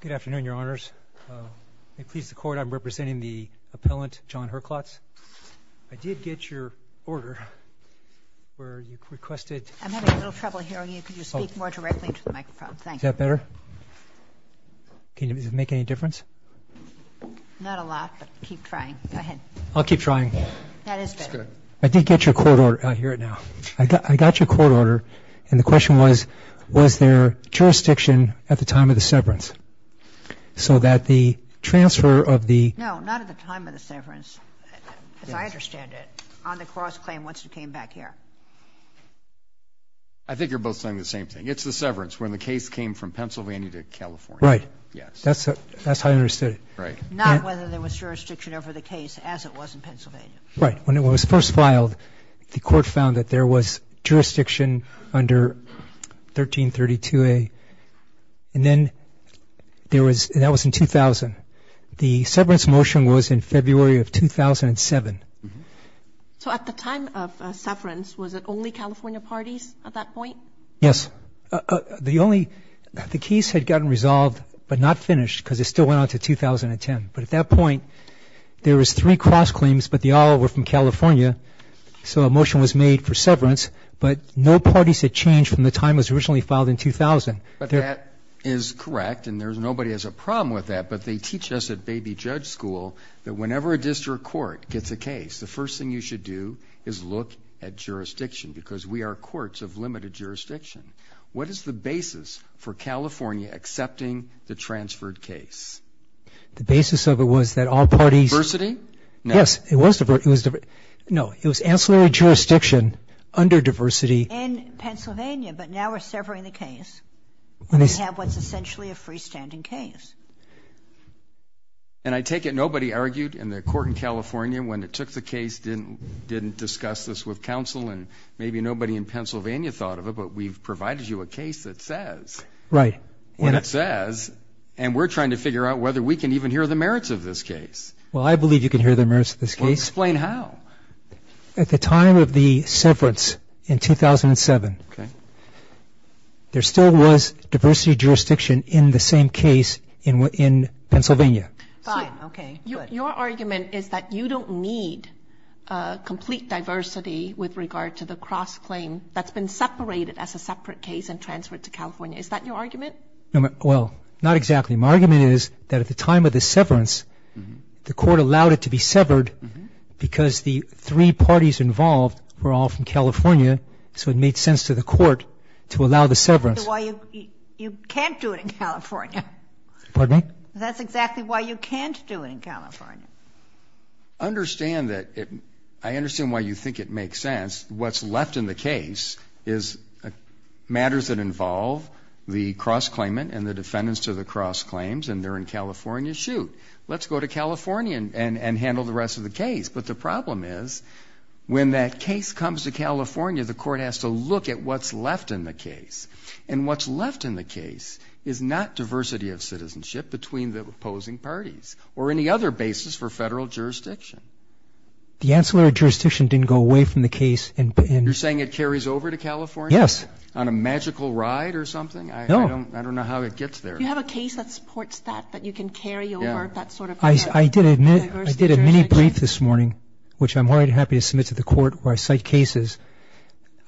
Good afternoon, Your Honors. May it please the Court, I'm representing the appellant John Herklotz. I did get your order, where you requested... I'm having a little trouble hearing you. Could you speak more directly into the microphone? Thank you. Is that better? Does it make any difference? Not a lot, but keep trying. Go ahead. I'll keep trying. That is better. I did get your court order. I hear it now. I got your court order, and the question was, was there jurisdiction at the time of the severance? So that the transfer of the... No, not at the time of the severance, as I understand it, on the cross-claim once it came back here. I think you're both saying the same thing. It's the severance, when the case came from Pennsylvania to California. Right. Yes. That's how I understood it. Not whether there was jurisdiction over the case as it was in Pennsylvania. Right. When it was first filed, the Court found that there was jurisdiction under 1332A, and then there was... and that was in 2000. The severance motion was in February of 2007. So at the time of severance, was it only California parties at that point? Yes. The only... the case had gotten resolved, but not finished, because it still went on to 2010. But at that point, there was three cross-claims, but they all were from California. So a motion was made for severance, but no parties had changed from the time it was originally filed in 2000. But that is correct, and nobody has a problem with that. But they teach us at baby judge school that whenever a district court gets a case, the first thing you should do is look at jurisdiction, because we are courts of limited jurisdiction. What is the basis for California accepting the transferred case? The basis of it was that all parties... Diversity? Yes. It was diversity. No. It was ancillary jurisdiction under diversity. In Pennsylvania, but now we're severing the case. We have what's essentially a freestanding case. And I take it nobody argued in the court in California when it took the case, didn't discuss this with counsel, and maybe nobody in Pennsylvania thought of it, but we've provided you a case that says... Right. And it says, and we're trying to figure out whether we can even hear the merits of this case. Well, I believe you can hear the merits of this case. Well, explain how. At the time of the severance in 2007, there still was diversity jurisdiction in the same case in Pennsylvania. Fine. Okay. Good. Your argument is that you don't need complete diversity with regard to the cross-claim that's been separated as a separate case and transferred to California. Is that your argument? Well, not exactly. My argument is that at the time of the severance, the court allowed it to be severed because the three parties involved were all from California, so it made sense to the court to allow the severance. That's why you can't do it in California. Pardon me? That's exactly why you can't do it in California. I understand that. I understand why you think it makes sense. What's left in the case is matters that involve the cross-claimant and the defendants to the cross-claims, and they're in California. Shoot, let's go to California and handle the rest of the case. But the problem is when that case comes to California, the court has to look at what's left in the case. And what's left in the case is not diversity of citizenship between the opposing parties or any other basis for Federal jurisdiction. The ancillary jurisdiction didn't go away from the case. You're saying it carries over to California? Yes. On a magical ride or something? No. I don't know how it gets there. Do you have a case that supports that, that you can carry over that sort of diversity of jurisdiction? I did a mini-brief this morning, which I'm more than happy to submit to the court where I cite cases.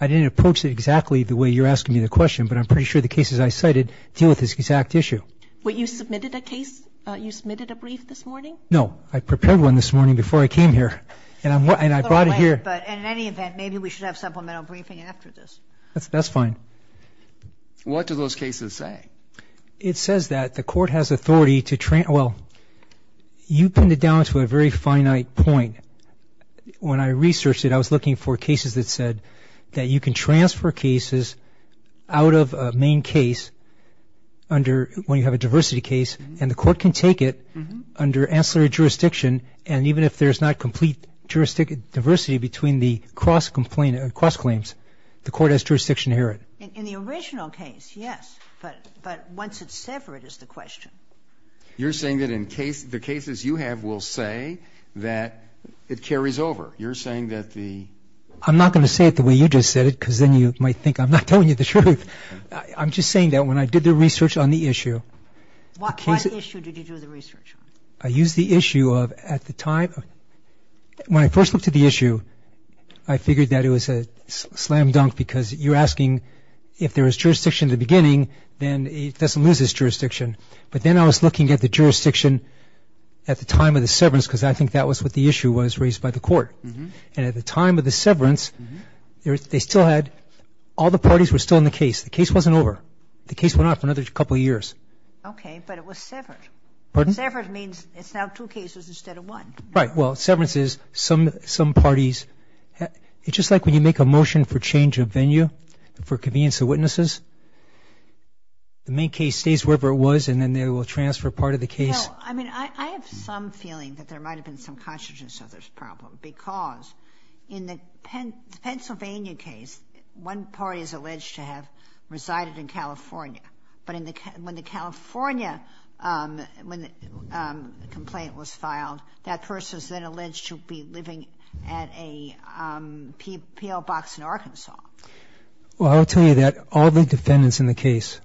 I didn't approach it exactly the way you're asking me the question, but I'm pretty sure the cases I cited deal with this exact issue. Wait, you submitted a case? You submitted a brief this morning? No. I prepared one this morning before I came here. And I brought it here. But in any event, maybe we should have supplemental briefing after this. That's fine. What do those cases say? It says that the court has authority to, well, you pinned it down to a very finite point. When I researched it, I was looking for cases that said that you can transfer cases out of a main case under, when you have a diversity case, and the court can take it under ancillary jurisdiction, and even if there's not complete diversity between the cross-claims, the court has jurisdiction to hear it. In the original case, yes. But once it's separate is the question. You're saying that in case the cases you have will say that it carries over. You're saying that the ---- I'm not going to say it the way you just said it, because then you might think I'm not telling you the truth. I'm just saying that when I did the research on the issue, What issue did you do the research on? I used the issue of at the time, when I first looked at the issue, I figured that it was a slam dunk because you're asking if there was jurisdiction in the beginning, then it doesn't lose its jurisdiction. But then I was looking at the jurisdiction at the time of the severance because I think that was what the issue was raised by the court. And at the time of the severance, they still had, all the parties were still in the case. The case wasn't over. The case went on for another couple of years. Okay. But it was severed. Pardon? Severed means it's now two cases instead of one. Right. Well, severance is some parties ---- It's just like when you make a motion for change of venue for convenience of witnesses. The main case stays wherever it was, and then they will transfer part of the case. No. I mean, I have some feeling that there might have been some consciousness of this problem because in the Pennsylvania case, one party is alleged to have resided in California. But when the California complaint was filed, that person is then alleged to be living at a P.L. box in Arkansas. Well, I will tell you that all the defendants in the case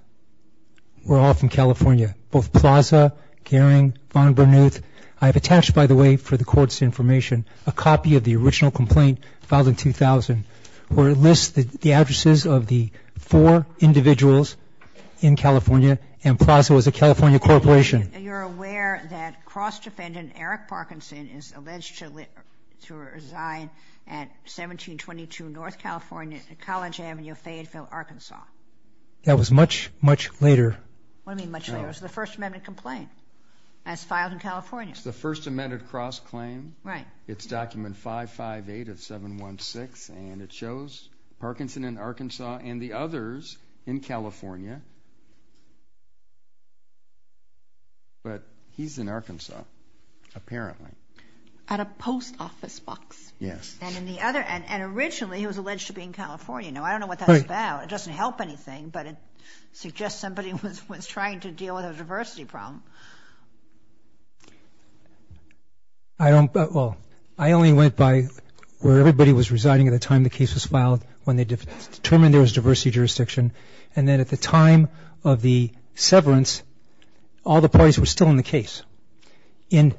were all from California, both Plaza, Goering, Von Bernuth. I have attached, by the way, for the Court's information, a copy of the original complaint filed in 2000, where it lists the addresses of the four individuals in California, and Plaza was a California corporation. You're aware that cross-defendant Eric Parkinson is alleged to reside at 1722 North California, College Avenue, Fayetteville, Arkansas. What do you mean much later? Much later. It was the First Amendment complaint as filed in California. It's the First Amendment cross-claim. Right. It's document 558 of 716, and it shows Parkinson in Arkansas and the others in California. But he's in Arkansas, apparently. At a post office box. Yes. And originally he was alleged to be in California. Now, I don't know what that was about. It doesn't help anything, but it suggests somebody was trying to deal with a diversity problem. Well, I only went by where everybody was residing at the time the case was filed when they determined there was diversity jurisdiction, and then at the time of the severance, all the parties were still in the case in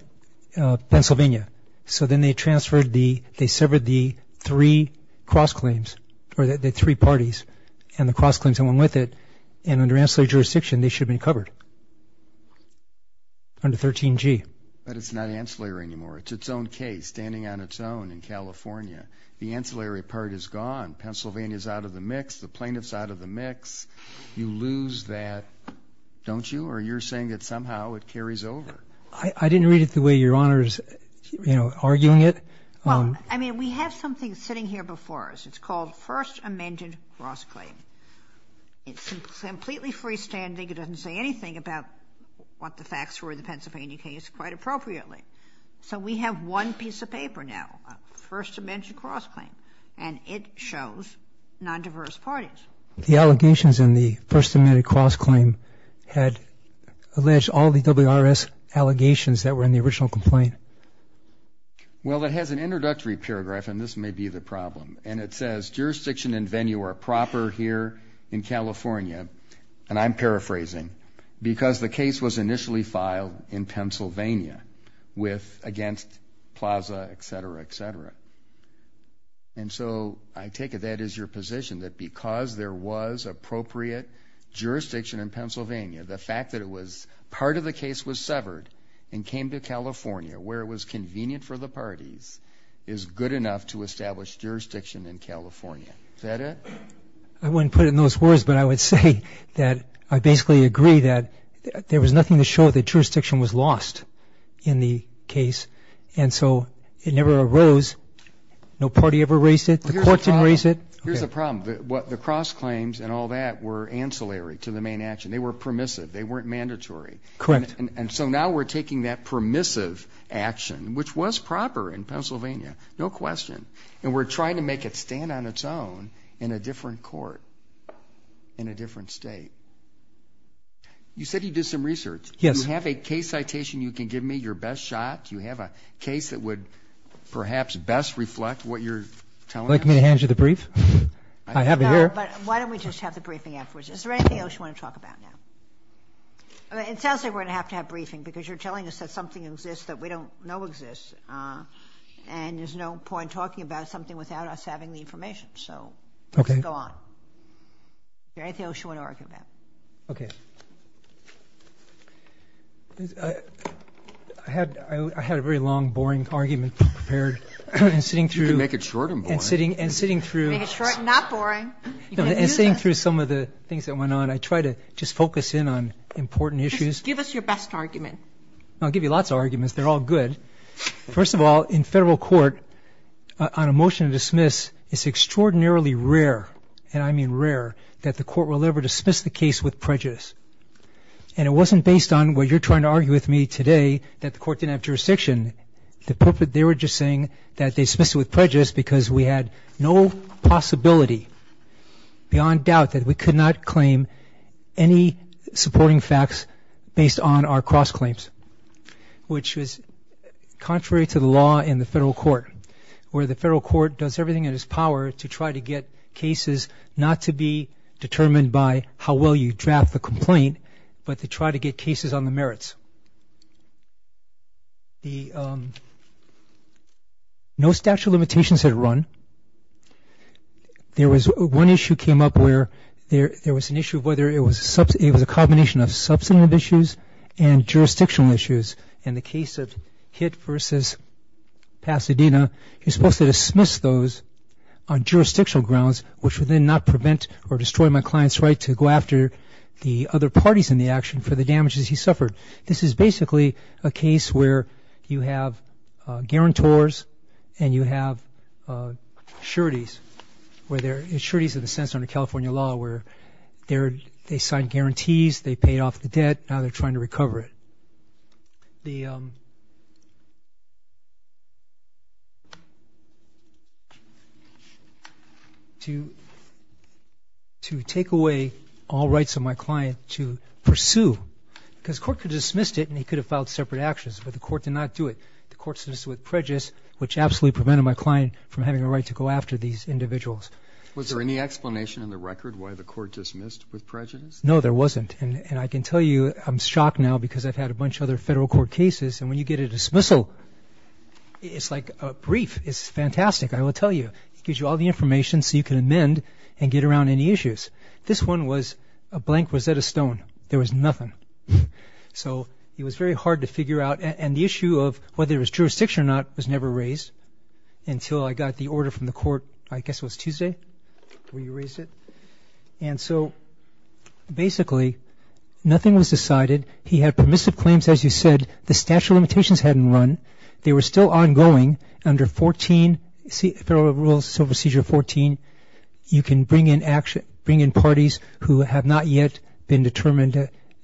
Pennsylvania. So then they transferred the, they severed the three cross-claims, or the three parties, and the cross-claims that went with it, and under ancillary jurisdiction, they should have been covered under 13G. But it's not ancillary anymore. It's its own case standing on its own in California. The ancillary part is gone. Pennsylvania's out of the mix. The plaintiff's out of the mix. You lose that, don't you? Or you're saying that somehow it carries over? I didn't read it the way Your Honor is, you know, arguing it. Well, I mean, we have something sitting here before us. It's called first amended cross-claim. It's completely freestanding. It doesn't say anything about what the facts were in the Pennsylvania case quite appropriately. So we have one piece of paper now, first amended cross-claim, and it shows nondiverse parties. The allegations in the first amended cross-claim had alleged all the WRS allegations that were in the original complaint. Well, it has an introductory paragraph, and this may be the problem. And it says, Jurisdiction and venue are proper here in California, and I'm paraphrasing, because the case was initially filed in Pennsylvania with against Plaza, et cetera, et cetera. And so I take it that is your position, that because there was appropriate jurisdiction in Pennsylvania, the fact that part of the case was severed and came to California, where it was convenient for the parties, is good enough to establish jurisdiction in California. Is that it? I wouldn't put it in those words, but I would say that I basically agree that there was nothing to show that jurisdiction was lost in the case, and so it never arose. No party ever raised it? The court didn't raise it? Here's the problem. The cross-claims and all that were ancillary to the main action. They were permissive. They weren't mandatory. Correct. And so now we're taking that permissive action, which was proper in Pennsylvania, no question, and we're trying to make it stand on its own in a different court, in a different state. You said you did some research. Yes. Do you have a case citation you can give me, your best shot? Do you have a case that would perhaps best reflect what you're telling us? Would you like me to hand you the brief? I have it here. No, but why don't we just have the briefing afterwards? Is there anything else you want to talk about now? It sounds like we're going to have to have a briefing because you're telling us that something exists that we don't know exists, and there's no point talking about something without us having the information, so let's go on. Okay. Is there anything else you want to argue about? Okay. I had a very long, boring argument prepared. You can make it short and boring. Make it short and not boring. And sitting through some of the things that went on, I tried to just focus in on important issues. Just give us your best argument. I'll give you lots of arguments. They're all good. First of all, in Federal court, on a motion to dismiss, it's extraordinarily rare, and I mean rare, that the court will ever dismiss the case with prejudice. And it wasn't based on what you're trying to argue with me today, that the court didn't have jurisdiction. They were just saying that they dismissed it with prejudice because we had no possibility beyond doubt that we could not claim any supporting facts based on our cross-claims, which was contrary to the law in the Federal court, where the Federal court does everything in its power to try to get cases not to be determined by how well you draft the complaint, but to try to get cases on the merits. No statute of limitations had run. One issue came up where there was an issue of whether it was a combination of substantive issues and jurisdictional issues. In the case of Hitt versus Pasadena, you're supposed to dismiss those on jurisdictional grounds, which would then not prevent or destroy my client's right to go after the other parties in the action for the damages he suffered. This is basically a case where you have guarantors and you have sureties, where they're sureties in a sense under California law, where they signed guarantees, they paid off the debt, now they're trying to recover it. To take away all rights of my client to pursue, because the court could have dismissed it and he could have filed separate actions, but the court did not do it. The court dismissed it with prejudice, which absolutely prevented my client from having a right to go after these individuals. Was there any explanation in the record why the court dismissed with prejudice? No, there wasn't. And I can tell you I'm shocked now because I've had a bunch of other federal court cases and when you get a dismissal, it's like a brief. It's fantastic, I will tell you. It gives you all the information so you can amend and get around any issues. This one was a blank Rosetta Stone. There was nothing. So it was very hard to figure out. And the issue of whether it was jurisdiction or not was never raised until I got the order from the court, I guess it was Tuesday when you raised it. And so, basically, nothing was decided. He had permissive claims, as you said. The statute of limitations hadn't run. They were still ongoing. Under Federal Rules of Procedure 14, you can bring in parties who have not yet been determined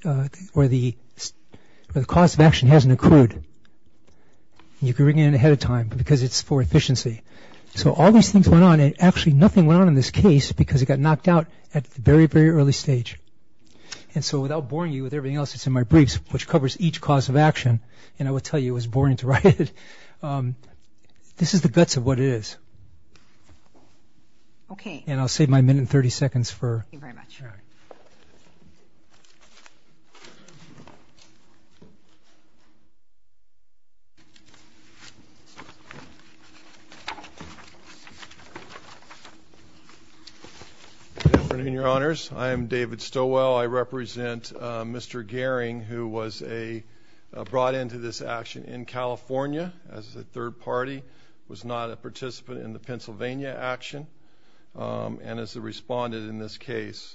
or the cause of action hasn't accrued. You can bring it in ahead of time because it's for efficiency. So all these things went on and actually nothing went on in this case because it got knocked out at the very, very early stage. And so without boring you with everything else that's in my briefs, which covers each cause of action, and I will tell you it was boring to write it, this is the guts of what it is. And I'll save my minute and 30 seconds for... Good afternoon, Your Honors. I am David Stowell. I represent Mr. Goering, who was brought into this action in California as a third party, was not a participant in the Pennsylvania action, and is a respondent in this case.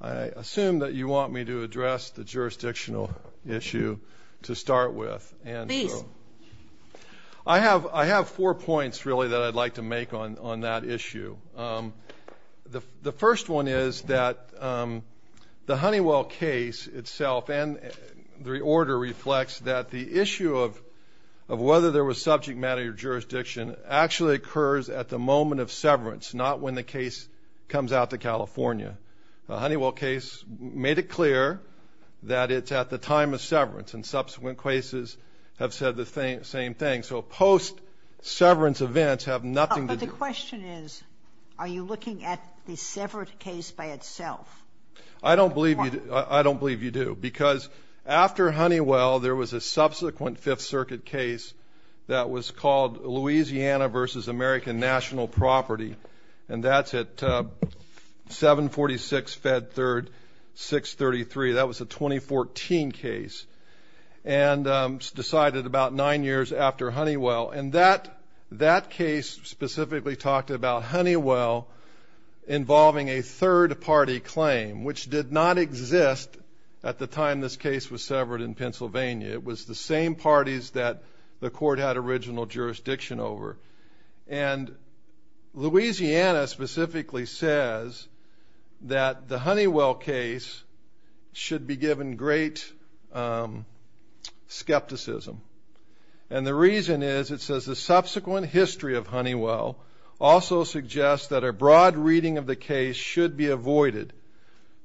I assume that you want me to address the jurisdictional issue to start with. Please. I have four points, really, that I'd like to make on that issue. The first one is that the Honeywell case itself and the order reflects that the issue of whether there was subject matter jurisdiction actually occurs at the moment of severance, not when the case comes out to California. The Honeywell case made it clear that it's at the time of severance, and subsequent cases have said the same thing. The question is, are you looking at the severed case by itself? I don't believe you do. Because after Honeywell, there was a subsequent Fifth Circuit case that was called Louisiana v. American National Property, and that's at 746 Fed 3rd, 633. That was a 2014 case, and decided about nine years after Honeywell. And that case specifically talked about Honeywell involving a third-party claim, which did not exist at the time this case was severed in Pennsylvania. It was the same parties that the court had original jurisdiction over. And Louisiana specifically says that the Honeywell case should be given great skepticism. And the reason is, it says, the subsequent history of Honeywell also suggests that a broad reading of the case should be avoided.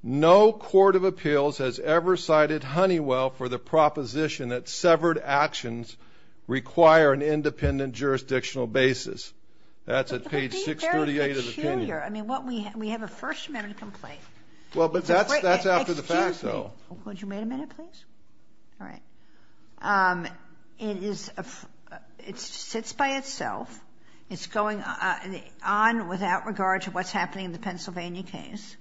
No court of appeals has ever cited Honeywell for the proposition that severed actions require an independent jurisdictional basis. That's at page 638 of the opinion. But that would be very peculiar. I mean, we have a First Amendment complaint. Well, but that's after the fact, though. Excuse me. Would you wait a minute, please? All right. It is a – it sits by itself. It's going on without regard to what's happening in the Pennsylvania case.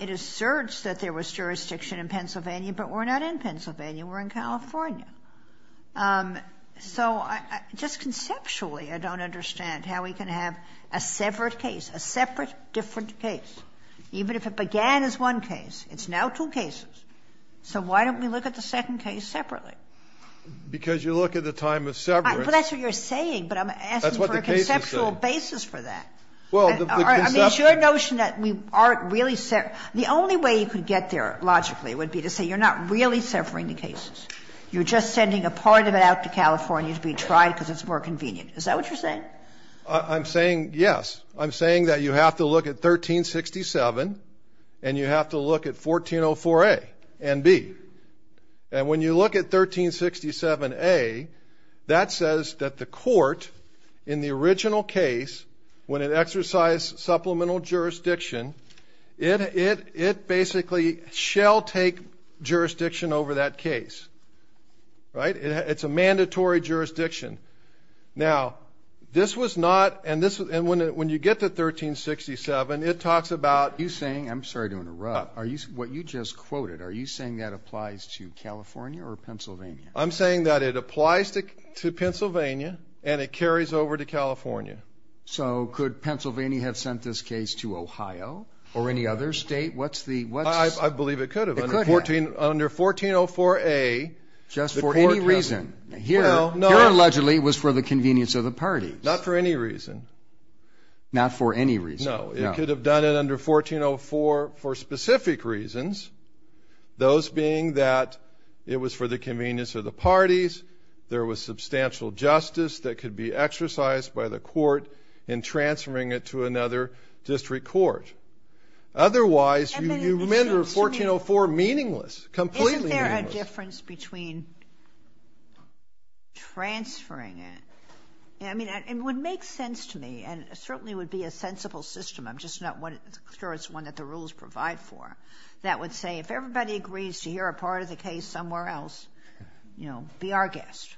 It asserts that there was jurisdiction in Pennsylvania, but we're not in Pennsylvania. We're in California. So just conceptually, I don't understand how we can have a severed case, a separate, different case, even if it began as one case. It's now two cases. So why don't we look at the second case separately? Because you look at the time of severance. But that's what you're saying, but I'm asking for a conceptual basis for that. That's what the case is saying. I mean, it's your notion that we aren't really – the only way you could get there logically would be to say you're not really severing the cases. You're just sending a part of it out to California to be tried because it's more convenient. Is that what you're saying? I'm saying, yes. I'm saying that you have to look at 1367 and you have to look at 1404A and B. And when you look at 1367A, that says that the court, in the original case, when it exercised supplemental jurisdiction, it basically shall take jurisdiction over that case. It's a mandatory jurisdiction. Now, this was not – and when you get to 1367, it talks about – Are you saying – I'm sorry to interrupt. What you just quoted, are you saying that applies to California or Pennsylvania? I'm saying that it applies to Pennsylvania and it carries over to California. So could Pennsylvania have sent this case to Ohio or any other state? I believe it could have. It could have. Under 1404A, the court – Just for any reason. Well, no. Here, allegedly, it was for the convenience of the parties. Not for any reason. Not for any reason. No. It could have done it under 1404 for specific reasons, those being that it was for the convenience of the parties, there was substantial justice that could be exercised by the court in transferring it to another district court. Otherwise, you render 1404 meaningless, completely meaningless. The difference between transferring it – I mean, it would make sense to me, and it certainly would be a sensible system. I'm just not sure it's one that the rules provide for. That would say if everybody agrees to hear a part of the case somewhere else, you know, be our guest.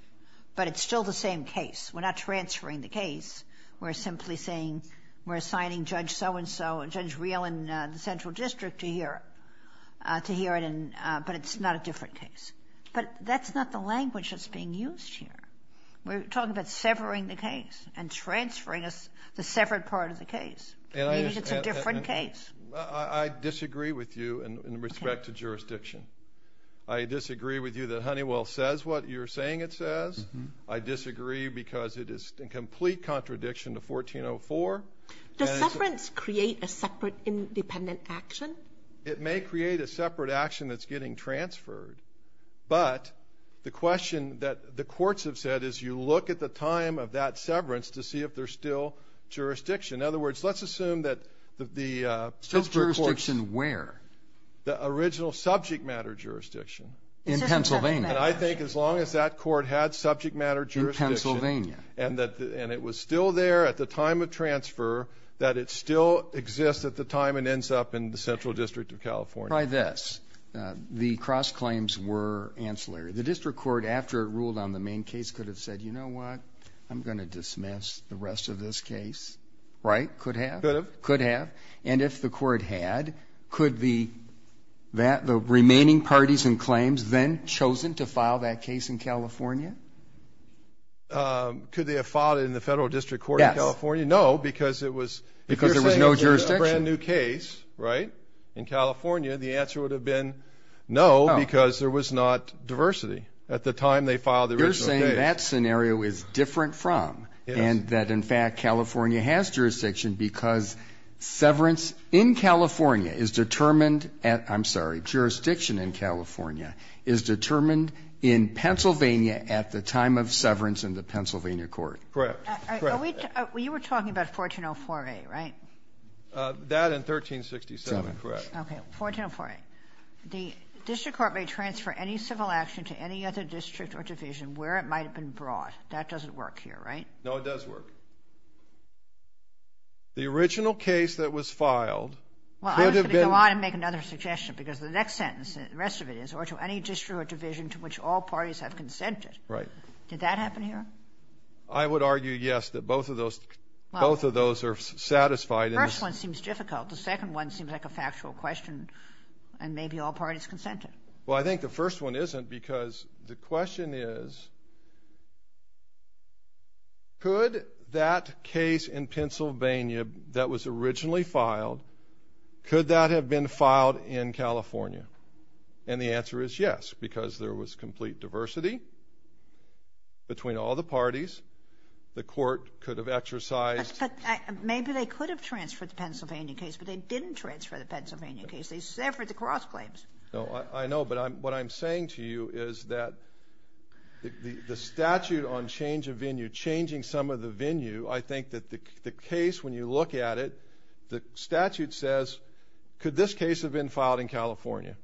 But it's still the same case. We're not transferring the case. We're simply saying we're assigning Judge so-and-so, Judge Reel in the Central District to hear it, but it's not a different case. But that's not the language that's being used here. We're talking about severing the case and transferring the severed part of the case. Maybe it's a different case. I disagree with you in respect to jurisdiction. I disagree with you that Honeywell says what you're saying it says. I disagree because it is in complete contradiction to 1404. Does severance create a separate independent action? It may create a separate action that's getting transferred. But the question that the courts have said is you look at the time of that severance to see if there's still jurisdiction. In other words, let's assume that the district courts – Still jurisdiction where? The original subject matter jurisdiction. In Pennsylvania. And I think as long as that court had subject matter jurisdiction – In Pennsylvania. And it was still there at the time of transfer, that it still exists at the time and ends up in the Central District of California. Try this. The cross-claims were ancillary. The district court, after it ruled on the main case, could have said, you know what, I'm going to dismiss the rest of this case. Right? Could have? Could have. And if the court had, could the remaining parties and claims then chosen to file that case in California? Could they have filed it in the federal district court in California? Yes. No, because it was – Because there was no jurisdiction. You're saying if there was a brand new case, right, in California, the answer would have been no because there was not diversity at the time they filed the original case. You're saying that scenario is different from and that, in fact, California has jurisdiction because severance in California is determined at – At the time of severance in the Pennsylvania court. Correct. You were talking about 1404A, right? That and 1367. Correct. Okay, 1404A. The district court may transfer any civil action to any other district or division where it might have been brought. That doesn't work here, right? No, it does work. The original case that was filed could have been – Well, I'm going to go on and make another suggestion because the next sentence, or to any district or division to which all parties have consented. Right. Did that happen here? I would argue, yes, that both of those are satisfied. The first one seems difficult. The second one seems like a factual question and maybe all parties consented. Well, I think the first one isn't because the question is, could that case in Pennsylvania that was originally filed, could that have been filed in California? And the answer is yes because there was complete diversity between all the parties. The court could have exercised – But maybe they could have transferred the Pennsylvania case, but they didn't transfer the Pennsylvania case. They severed the cross claims. No, I know, but what I'm saying to you is that the statute on change of venue, changing some of the venue, I think that the case, when you look at it, the statute says, could this case have been filed in California?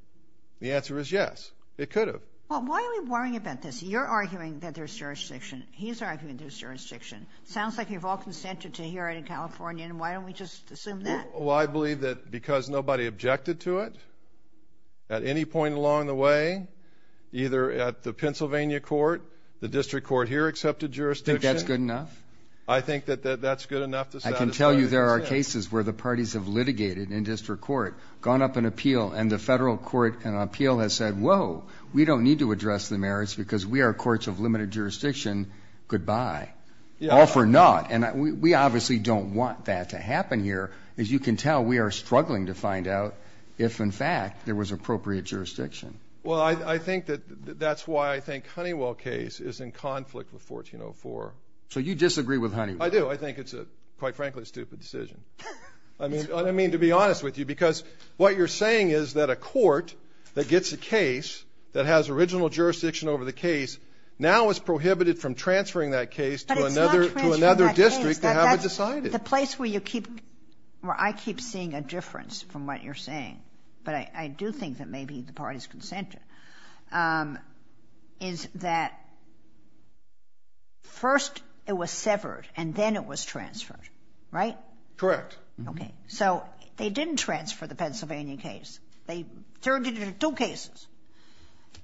The answer is yes. It could have. Well, why are we worrying about this? You're arguing that there's jurisdiction. He's arguing there's jurisdiction. Sounds like you've all consented to hear it in California, and why don't we just assume that? Well, I believe that because nobody objected to it at any point along the way, either at the Pennsylvania court, the district court here accepted jurisdiction. I think that that's good enough to sound as good as it is. I can tell you there are cases where the parties have litigated in district court, gone up in appeal, and the federal court in appeal has said, whoa, we don't need to address the merits because we are courts of limited jurisdiction, goodbye. All for naught. And we obviously don't want that to happen here. As you can tell, we are struggling to find out if, in fact, there was appropriate jurisdiction. Well, I think that that's why I think Honeywell case is in conflict with 1404. So you disagree with Honeywell? I do. I think it's a, quite frankly, stupid decision. I mean, to be honest with you, because what you're saying is that a court that gets a case that has original jurisdiction over the case now is prohibited from transferring that case to another district. But it's not transferring that case. They haven't decided. The place where I keep seeing a difference from what you're saying, but I do think that maybe the parties consented, is that first it was severed and then it was transferred, right? Correct. Okay. So they didn't transfer the Pennsylvania case. They turned it into two cases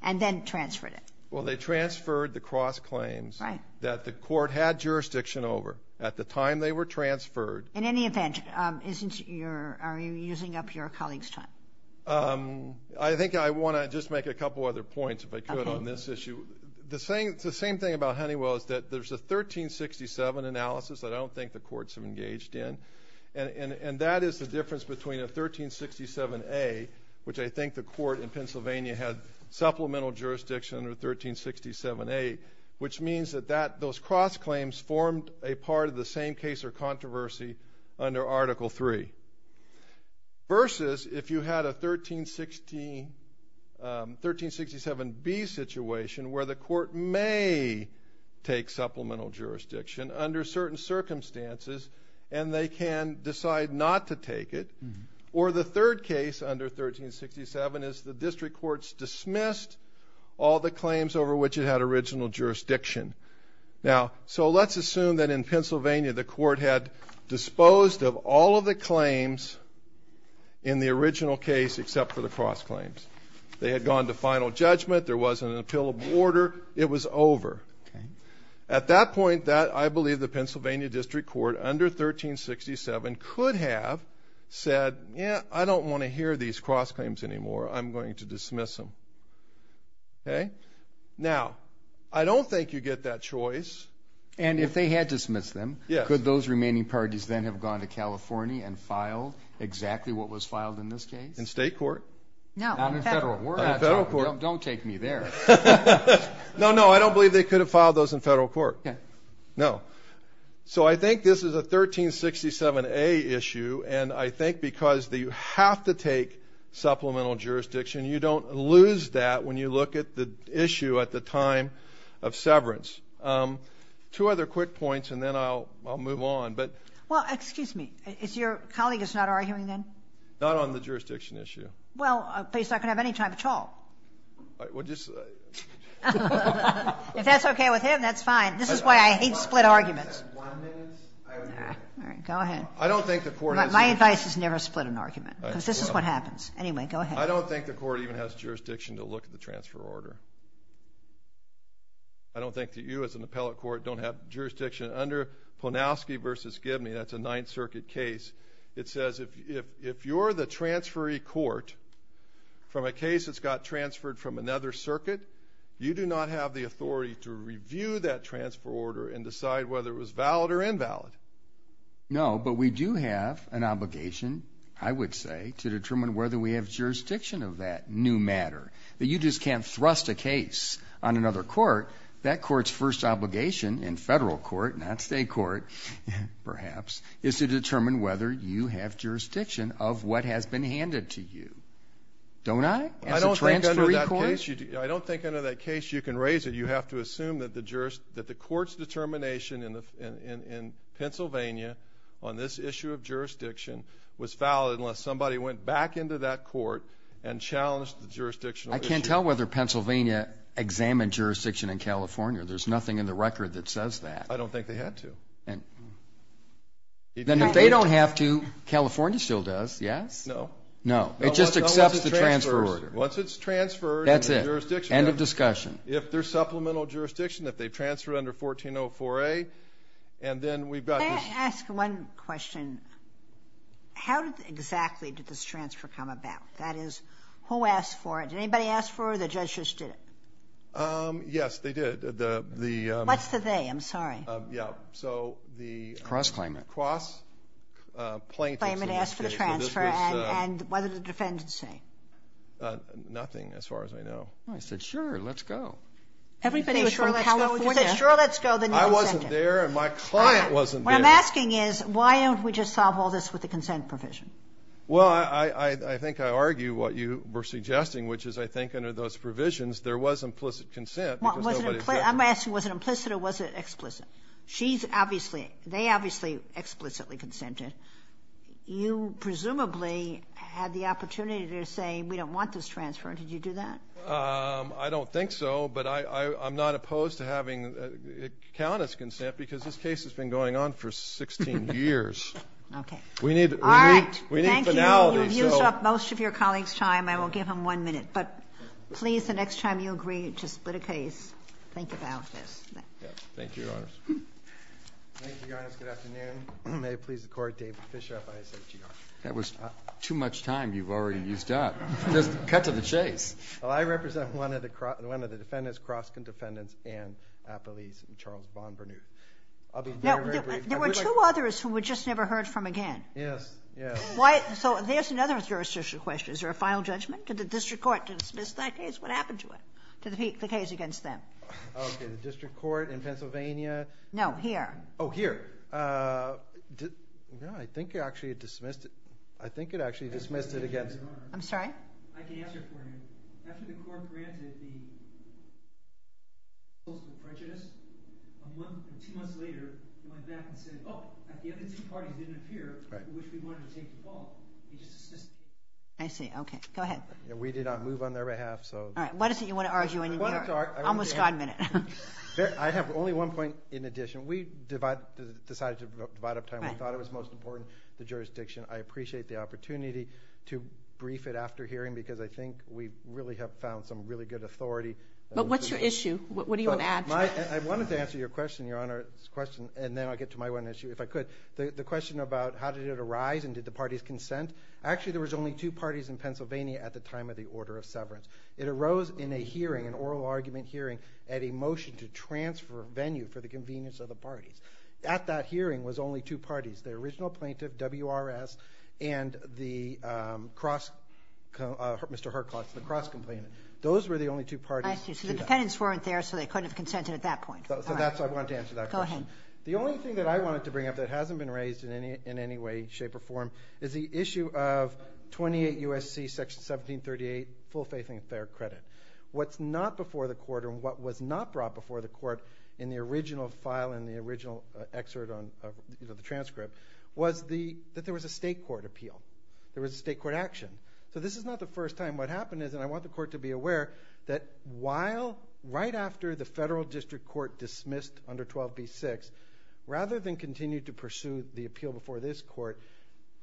and then transferred it. Well, they transferred the cross claims that the court had jurisdiction over at the time they were transferred. In any event, are you using up your colleagues' time? I think I want to just make a couple other points, if I could, on this issue. The same thing about Honeywell is that there's a 1367 analysis that I don't think the courts have engaged in, and that is the difference between a 1367A, which I think the court in Pennsylvania had supplemental jurisdiction under 1367A, which means that those cross claims formed a part of the same case or controversy under Article III, versus if you had a 1367B situation where the court may take supplemental jurisdiction under certain circumstances and they can decide not to take it, or the third case under 1367 is the district courts dismissed all the claims over which it had original jurisdiction. Now, so let's assume that in Pennsylvania the court had disposed of all of the claims in the original case except for the cross claims. They had gone to final judgment. There wasn't an appealable order. It was over. Okay. At that point, I believe the Pennsylvania district court under 1367 could have said, yeah, I don't want to hear these cross claims anymore. I'm going to dismiss them. Okay. Now, I don't think you get that choice. And if they had dismissed them, could those remaining parties then have gone to California and filed exactly what was filed in this case? In state court? No, in federal court. Don't take me there. No, no, I don't believe they could have filed those in federal court. Okay. No. So I think this is a 1367A issue, and I think because you have to take supplemental jurisdiction, you don't lose that when you look at the issue at the time of severance. Two other quick points, and then I'll move on. Well, excuse me. Is your colleague is not arguing then? Not on the jurisdiction issue. Well, but he's not going to have any time at all. Well, just... If that's okay with him, that's fine. This is why I hate split arguments. All right. Go ahead. I don't think the court has... My advice is never split an argument because this is what happens. Anyway, go ahead. I don't think the court even has jurisdiction to look at the transfer order. I don't think that you as an appellate court don't have jurisdiction. Under Ponowski v. Gibney, that's a Ninth Circuit case, it says if you're the transferee court from a case that's got transferred from another circuit, you do not have the authority to review that transfer order and decide whether it was valid or invalid. No, but we do have an obligation, I would say, to determine whether we have jurisdiction of that new matter. You just can't thrust a case on another court. That court's first obligation in federal court, not state court perhaps, is to determine whether you have jurisdiction of what has been handed to you. Don't I, as a transferee court? I don't think under that case you can raise it. You have to assume that the court's determination in Pennsylvania on this issue of jurisdiction was valid unless somebody went back into that court and challenged the jurisdictional issue. I can't tell whether Pennsylvania examined jurisdiction in California. There's nothing in the record that says that. I don't think they had to. Then if they don't have to, California still does, yes? No. No, it just accepts the transfer order. Once it's transferred in the jurisdiction. That's it, end of discussion. If there's supplemental jurisdiction, if they've transferred under 1404A, and then we've got this. Can I ask one question? How exactly did this transfer come about? That is, who asked for it? Did anybody ask for it or the judge just did it? Yes, they did. What's the they? I'm sorry. Cross-claimant. Cross-claimant asked for the transfer. And what did the defendant say? Nothing as far as I know. I said, sure, let's go. Everybody was from California. You said, sure, let's go. I wasn't there and my client wasn't there. What I'm asking is why don't we just solve all this with the consent provision? Well, I think I argue what you were suggesting, which is I think under those provisions there was implicit consent. I'm asking was it implicit or was it explicit? They obviously explicitly consented. You presumably had the opportunity to say we don't want this transfer. Did you do that? I don't think so, but I'm not opposed to having a count as consent because this case has been going on for 16 years. We need finality. Thank you. You have used up most of your colleagues' time. I will give him one minute. But please, the next time you agree to split a case, think about this. Thank you, Your Honors. Thank you, Your Honors. Good afternoon. May it please the Court, David Fischer, FISHER. That was too much time you've already used up. Just cut to the chase. Well, I represent one of the defendants, Kroskin defendants, and police, Charles Bond-Bernouth. I'll be very brief. There were two others who we just never heard from again. Yes, yes. So there's another jurisdiction question. Is there a final judgment? Did the district court dismiss that case? What happened to it, to the case against them? Okay, the district court in Pennsylvania. No, here. Oh, here. No, I think it actually dismissed it. I think it actually dismissed it against. I'm sorry? I can answer it for you. After the court granted the most of the prejudice, two months later, it went back and said, oh, the other two parties didn't appear, which we wanted to take the fall. It just dismissed it. I see. Okay, go ahead. We did not move on their behalf, so. All right, what is it you want to argue in your almost God minute? I have only one point in addition. We decided to divide up time. We thought it was most important, the jurisdiction. I appreciate the opportunity to brief it after hearing, because I think we really have found some really good authority. But what's your issue? What do you want to add? I wanted to answer your question, Your Honor's question, and then I'll get to my one issue, if I could. The question about how did it arise, and did the parties consent? Actually, there was only two parties in Pennsylvania at the time of the order of severance. It arose in a hearing, an oral argument hearing, at a motion to transfer venue for the convenience of the parties. At that hearing was only two parties. The original plaintiff, W.R.S., and the cross-complainant. Those were the only two parties. I see. So the defendants weren't there, so they couldn't have consented at that point. So that's why I wanted to answer that question. Go ahead. The only thing that I wanted to bring up that hasn't been raised in any way, shape, or form, is the issue of 28 U.S.C. section 1738, full faith and fair credit. What's not before the court, or what was not brought before the court in the original file, in the original excerpt of the transcript, was that there was a state court appeal. There was a state court action. So this is not the first time. What happened is, and I want the court to be aware, that while right after the federal district court dismissed under 12b-6, rather than continue to pursue the appeal before this court,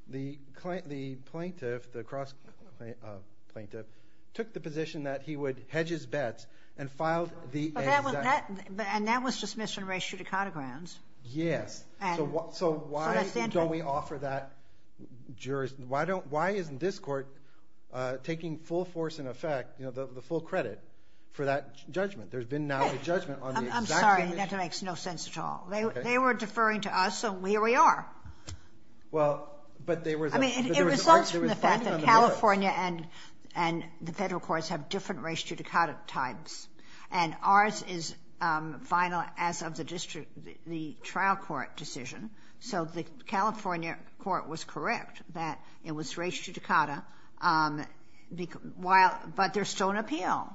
the plaintiff, the cross-plaintiff, took the position that he would hedge his bets and filed the exact. And that was dismissed in ratio to counter grounds. Yes. So why don't we offer that jurisdiction? Why isn't this court taking full force and effect, the full credit, for that judgment? There's been now a judgment on the exact condition. I'm sorry. That makes no sense at all. They were deferring to us, so here we are. Well, but they were. I mean, it results from the fact that California and the federal courts have different ratio to counter types. And ours is final as of the district, the trial court decision. So the California court was correct that it was ratio to counter, but there's still an appeal.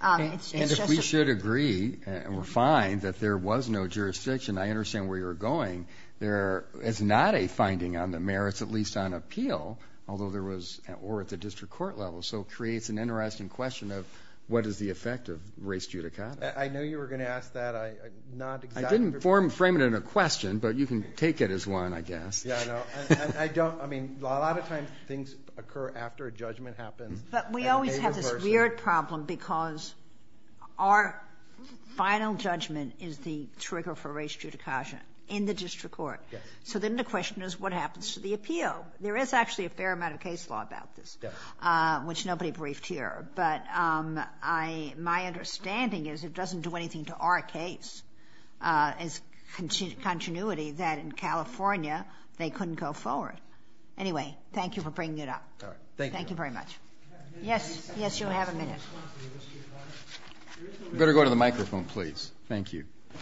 And if we should agree, and we're fine, that there was no jurisdiction, I understand where you're going. It's not a finding on the merits, at least on appeal, although there was at the district court level. So it creates an interesting question of what is the effect of race judicata. I knew you were going to ask that. I didn't frame it in a question, but you can take it as one, I guess. Yeah, I know. I mean, a lot of times things occur after a judgment happens. But we always have this weird problem because our final judgment is the trigger for race judicata in the district court. So then the question is what happens to the appeal? There is actually a fair amount of case law about this, which nobody briefed here. But my understanding is it doesn't do anything to our case, its continuity, that in California they couldn't go forward. Anyway, thank you for bringing it up. Thank you very much. Yes. Yes, you'll have a minute. You better go to the microphone, please. Thank you. I'll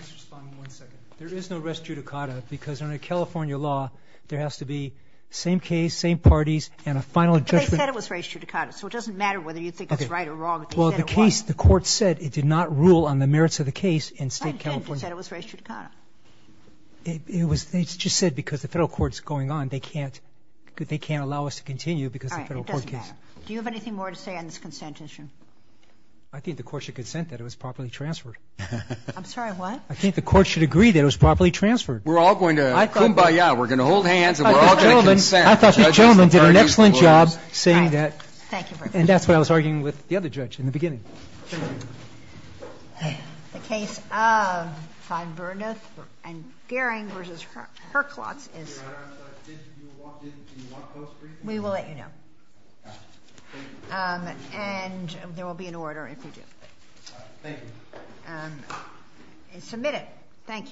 just respond in one second. There is no race judicata because under California law there has to be same case, same parties, and a final judgment. But they said it was race judicata. So it doesn't matter whether you think it's right or wrong. Okay. But they said it was. Well, the case, the court said it did not rule on the merits of the case in State Why didn't they say it was race judicata? It was just said because the Federal court is going on. They can't allow us to continue because of the Federal court case. All right. It doesn't matter. Do you have anything more to say on this consent issue? I think the court should consent that it was properly transferred. I'm sorry. What? I think the court should agree that it was properly transferred. We're all going to kumbaya. We're going to hold hands and we're all going to consent. I thought the gentleman did an excellent job saying that. Thank you very much. And that's what I was arguing with the other judge in the beginning. The case of Fine, Burneth and Gehring v. Herklotz is? We will let you know. And there will be an order if you do. Thank you. Submit it.